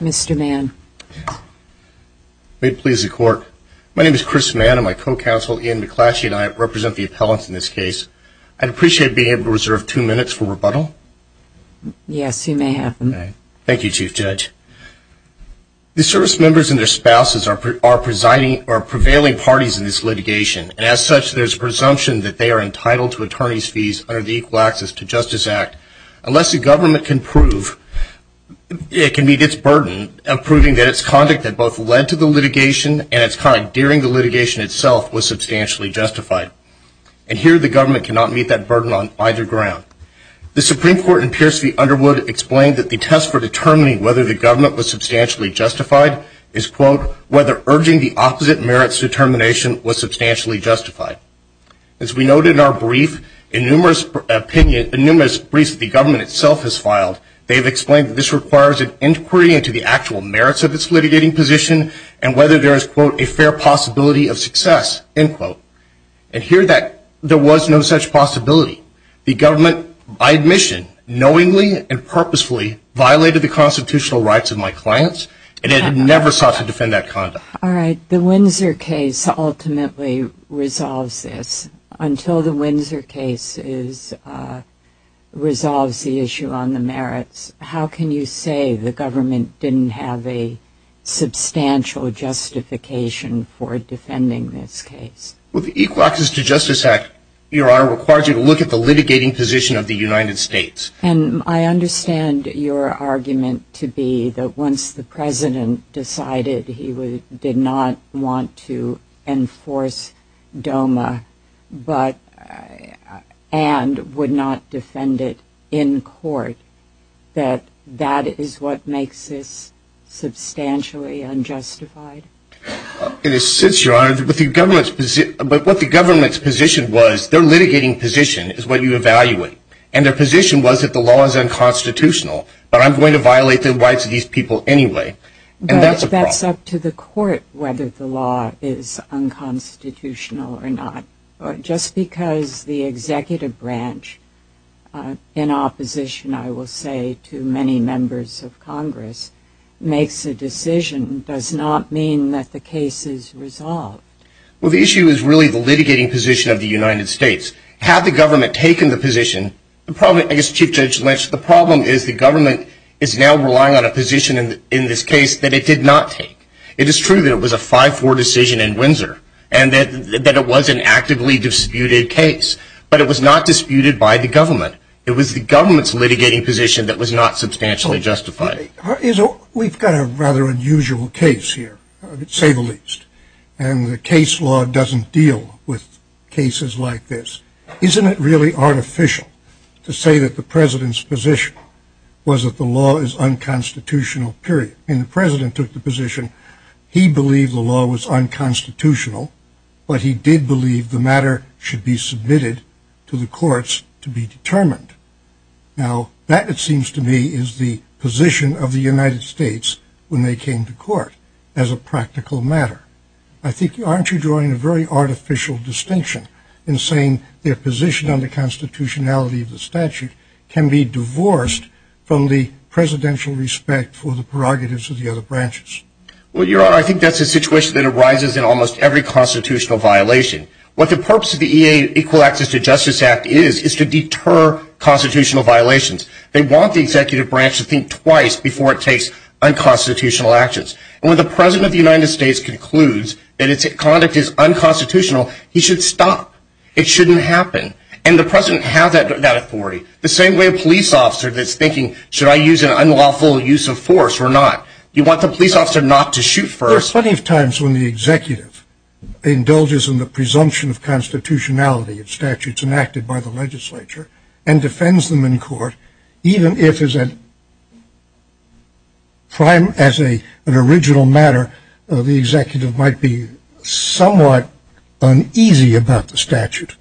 Mr. Mann. May it please the court. My name is Chris Mann and my co-counsel, Ian McClatchy, and I represent the appellants in this case. I'd appreciate being able to reserve two minutes for rebuttal. Yes, you may have them. Thank you, Chief Judge. The service members and their spouses are prevailing parties in this litigation, and as such there's a presumption that they are entitled to attorney's fees under the Equal Access to Justice Act. Unless the government can prove, it can meet its burden of proving that its conduct that both led to the litigation and its conduct during the litigation itself was substantially justified. And here the government cannot meet that burden on either ground. The Supreme Court in Pierce v. Underwood explained that the test for determining whether the government was substantially justified is, quote, whether urging the opposite merits determination was substantially justified. As we noted in our brief, in numerous briefs that the government itself has filed, they've explained that this requires an inquiry into the actual merits of its litigating position and whether there is, quote, a fair possibility of success, end quote. And here there was no such possibility. The government, by admission, knowingly and purposefully violated the constitutional rights of my clients and it never sought to defend that conduct. All right. The Windsor case ultimately resolves this. Until the Windsor case resolves the issue on the merits, how can you say the government didn't have a substantial justification for defending this case? Well, the Equal Access to Justice Act, Your Honor, requires you to look at the litigating position of the United States. And I understand your argument to be that once the President decided he did not want to enforce DOMA and would not defend it in court, that that is what makes this substantially unjustified? It is since, Your Honor, but what the government's position was, their litigating position is what you evaluate. And their position was that the law is unconstitutional, but I'm going to violate the rights of these people anyway. And that's a problem. But that's up to the court whether the law is unconstitutional or not. Just because the executive branch, in opposition, I will say, to many members of Congress, makes a decision does not mean that the case is resolved. Well, the issue is really the litigating position of the United States. Had the government taken the position, I guess Chief Judge Lynch, the problem is the government is now relying on a position in this case that it did not take. It is true that it was a 5-4 decision in Windsor and that it was an actively disputed case, but it was not disputed by the government. It was the government's litigating position that was not substantially justified. We've got a rather unusual case here, to say the least. And the case law doesn't deal with cases like this. Isn't it really artificial to say that the President's position was that the law is unconstitutional, period? When the President took the position, he believed the law was unconstitutional, but he did believe the matter should be submitted to the courts to be determined. Now, that, it seems to me, is the position of the United States when they came to court as a practical matter. I think, aren't you drawing a very artificial distinction in saying their position on the constitutionality of the statute can be divorced from the presidential respect for the prerogatives of the other branches? Well, Your Honor, I think that's a situation that arises in almost every constitutional violation. What the purpose of the Equal Access to Justice Act is, is to deter constitutional violations. They want the executive branch to think twice before it takes unconstitutional actions. And when the President of the United States concludes that its conduct is unconstitutional, he should stop. It shouldn't happen. And the President has that authority. The same way a police officer that's thinking, should I use an unlawful use of force or not? You want the police officer not to shoot first. There are plenty of times when the executive indulges in the presumption of constitutionality of statutes enacted by the legislature and defends them in court, even if, as an original matter, the executive might be somewhat uneasy about the statute.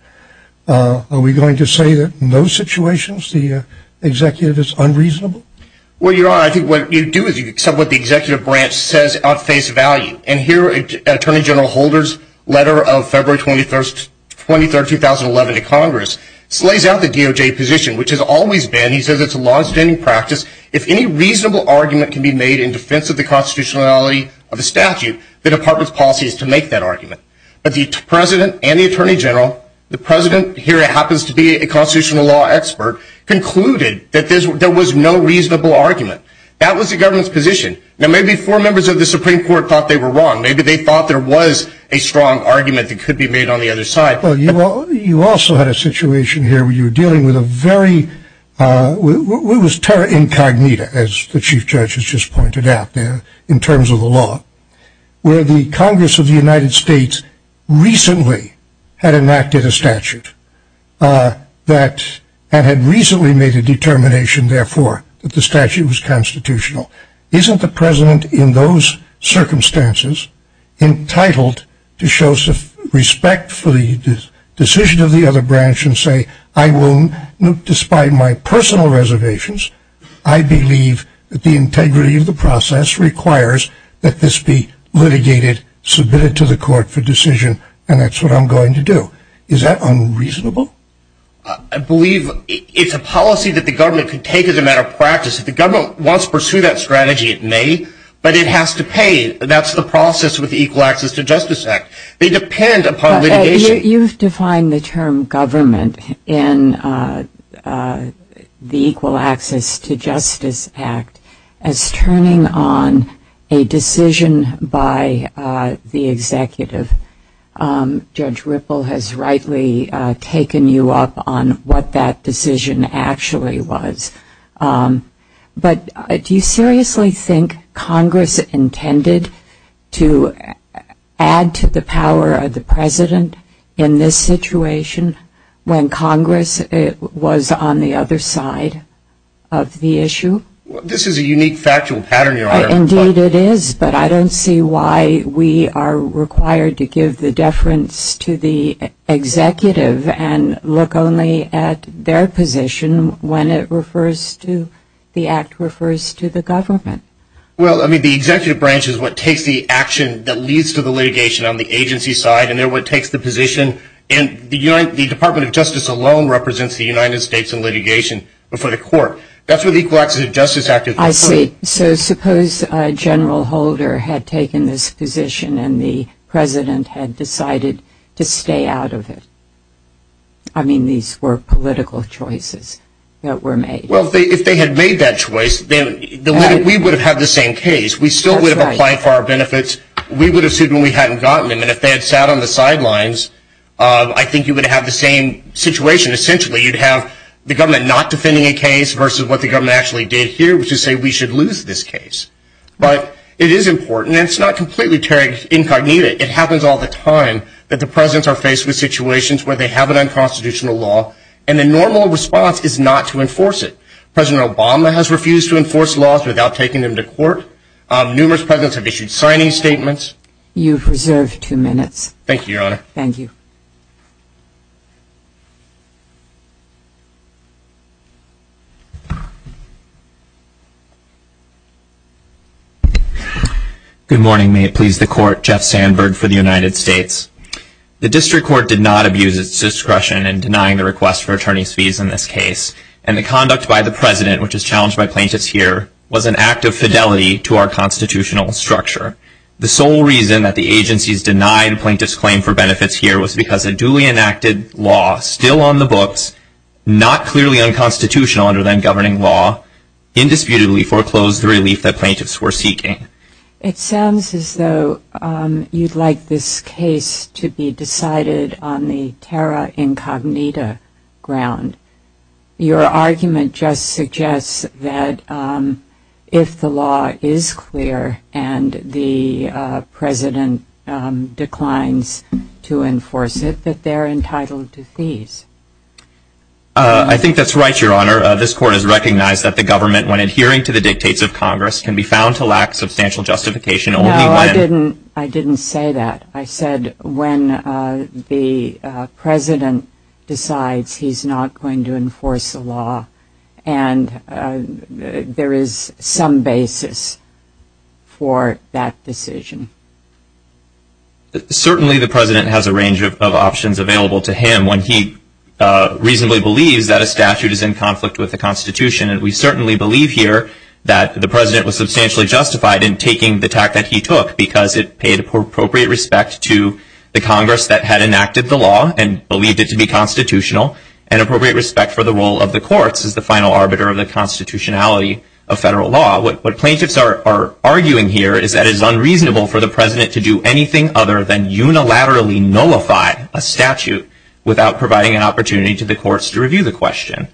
Are we going to say that in those situations the executive is unreasonable? Well, Your Honor, I think what you do is you accept what the executive branch says at face value. And here, Attorney General Holder's letter of February 23, 2011 to Congress slays out the DOJ position, which has always been, he says it's a law-abstaining practice, if any reasonable argument can be made in defense of the constitutionality of a statute, the Department's policy is to make that argument. But the President and the Attorney General, the President here happens to be a constitutional law expert, concluded that there was no reasonable argument. That was the government's position. Now, maybe four members of the Supreme Court thought they were wrong. Maybe they thought there was a strong argument that could be made on the other side. Well, you also had a situation here where you were dealing with a very, it was terra incognita, as the Chief Judge has just pointed out there, in terms of the law, where the Congress of the United States recently had enacted a statute and had recently made a determination, therefore, that the statute was constitutional. Isn't the President in those circumstances entitled to show respect for the decision of the other branch and say, I will, despite my personal reservations, I believe that the integrity of the process requires that this be litigated, submitted to the court for decision, and that's what I'm going to do. Is that unreasonable? I believe it's a policy that the government could take as a matter of practice. If the government wants to pursue that strategy, it may, but it has to pay. That's the process with the Equal Access to Justice Act. They depend upon litigation. You've defined the term government in the Equal Access to Justice Act as turning on a decision by the executive. Judge Ripple has rightly taken you up on what that decision actually was. But do you seriously think Congress intended to add to the power of the President in this situation when Congress was on the other side of the issue? This is a unique factual pattern, Your Honor. Indeed it is, but I don't see why we are required to give the deference to the executive and look only at their position when the act refers to the government. Well, I mean, the executive branch is what takes the action that leads to the litigation on the agency side, and they're what takes the position, and the Department of Justice alone represents the United States in litigation before the court. That's what the Equal Access to Justice Act is. I see. So suppose General Holder had taken this position and the President had decided to stay out of it. I mean, these were political choices that were made. Well, if they had made that choice, then we would have had the same case. We still would have applied for our benefits. We would have sued when we hadn't gotten them, and if they had sat on the sidelines, I think you would have the same situation. Essentially, you'd have the government not defending a case versus what the government actually did here, which is say we should lose this case. But it is important, and it's not completely incognito. It happens all the time that the presidents are faced with situations where they have an unconstitutional law, and the normal response is not to enforce it. President Obama has refused to enforce laws without taking them to court. Numerous presidents have issued signing statements. You have reserved two minutes. Thank you, Your Honor. Thank you. Good morning. May it please the Court. Jeff Sandberg for the United States. The District Court did not abuse its discretion in denying the request for attorney's fees in this case, and the conduct by the President, which is challenged by plaintiffs here, was an act of fidelity to our constitutional structure. The sole reason that the agencies denied plaintiffs' claim for benefits here was because a duly enacted law, still on the books, not clearly unconstitutional under then-governing law, indisputably foreclosed the relief that plaintiffs were seeking. It sounds as though you'd like this case to be decided on the terra incognita ground. Your argument just suggests that if the law is clear and the President declines to enforce it, that they're entitled to fees. I think that's right, Your Honor. This Court has recognized that the government, when adhering to the dictates of Congress, can be found to lack substantial justification only when No, I didn't say that. I said when the President decides he's not going to enforce the law and there is some basis for that decision. Certainly the President has a range of options available to him when he reasonably believes that a statute is in conflict with the Constitution. And we certainly believe here that the President was substantially justified in taking the tact that he took because it paid appropriate respect to the Congress that had enacted the law and believed it to be constitutional and appropriate respect for the role of the courts as the final arbiter of the constitutionality of federal law. What plaintiffs are arguing here is that it is unreasonable for the President to do anything other than unilaterally nullify a statute without providing an opportunity to the courts to review the question.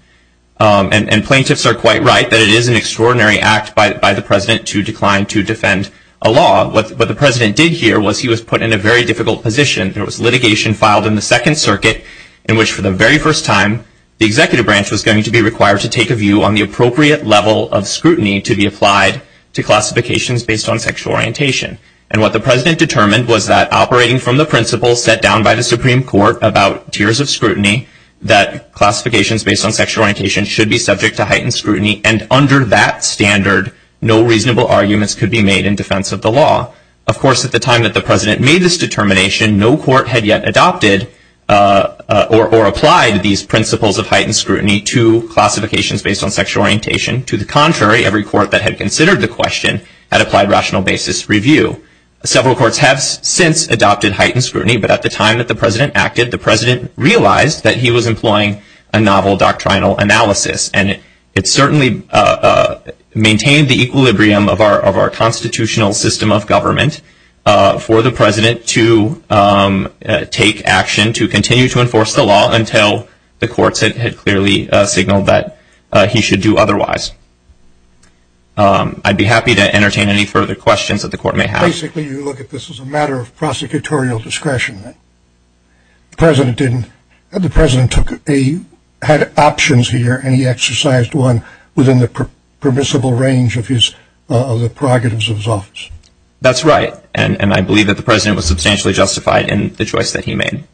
And plaintiffs are quite right that it is an extraordinary act by the President to decline to defend a law. What the President did here was he was put in a very difficult position. There was litigation filed in the Second Circuit in which for the very first time the Executive Branch was going to be required to take a view on the appropriate level of scrutiny to be applied to classifications based on sexual orientation. And what the President determined was that operating from the principles set down by the Supreme Court about tiers of scrutiny, that classifications based on sexual orientation should be subject to heightened scrutiny and under that standard no reasonable arguments could be made in defense of the law. Of course, at the time that the President made this determination, no court had yet adopted or applied these principles of heightened scrutiny to classifications based on sexual orientation. To the contrary, every court that had considered the question had applied rational basis review. Several courts have since adopted heightened scrutiny, but at the time that the President acted, the President realized that he was employing a novel doctrinal analysis. And it certainly maintained the equilibrium of our constitutional system of government for the President to take action to continue to enforce the law until the courts had clearly signaled that he should do otherwise. I'd be happy to entertain any further questions that the Court may have. Basically, you look at this as a matter of prosecutorial discretion. The President had options here, and he exercised one within the permissible range of the prerogatives of his office. That's right. And I believe that the President was substantially justified in the choice that he made.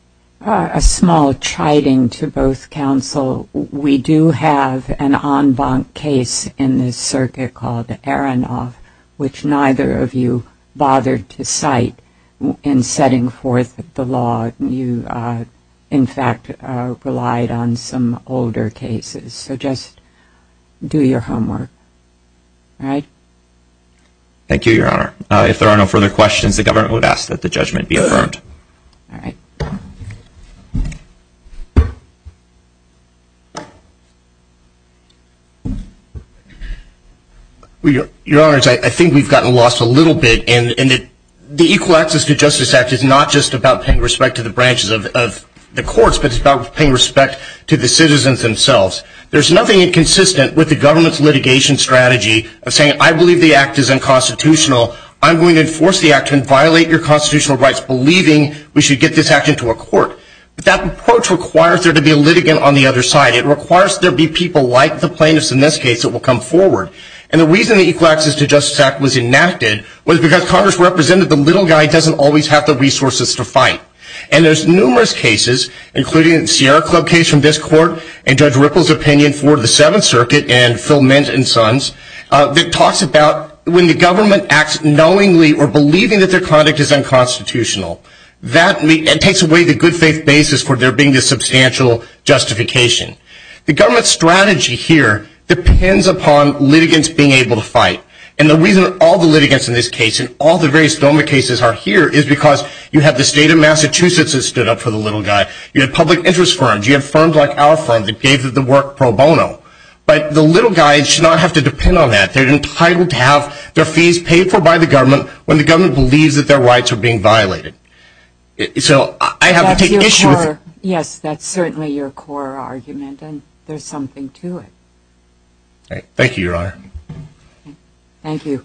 A small chiding to both counsel. We do have an en banc case in this circuit called Aronoff, which neither of you bothered to cite in setting forth the law. You, in fact, relied on some older cases. So just do your homework. All right? Thank you, Your Honor. If there are no further questions, the government would ask that the judgment be affirmed. All right. Your Honor, I think we've gotten lost a little bit. And the Equal Access to Justice Act is not just about paying respect to the branches of the courts, but it's about paying respect to the citizens themselves. There's nothing inconsistent with the government's litigation strategy of saying, I believe the act is unconstitutional. I'm going to enforce the act and violate your constitutional rights, believing we should get this act into a court. But that approach requires there to be a litigant on the other side. It requires there be people like the plaintiffs in this case that will come forward. And the reason the Equal Access to Justice Act was enacted was because Congress represented the little guy who doesn't always have the resources to fight. And there's numerous cases, including the Sierra Club case from this court and Judge Ripple's opinion for the Seventh Circuit and Phil Mint and Sons, that talks about when the government acts knowingly or believing that their conduct is unconstitutional, that takes away the good faith basis for there being a substantial justification. The government's strategy here depends upon litigants being able to fight. And the reason all the litigants in this case and all the various DOMA cases are here is because you have the state of Massachusetts that stood up for the little guy. You have public interest firms. You have firms like our firm that gave the work pro bono. But the little guy should not have to depend on that. They're entitled to have their fees paid for by the government when the government believes that their rights are being violated. So I have to take issue with it. Yes, that's certainly your core argument, and there's something to it. Thank you, Your Honor. Thank you.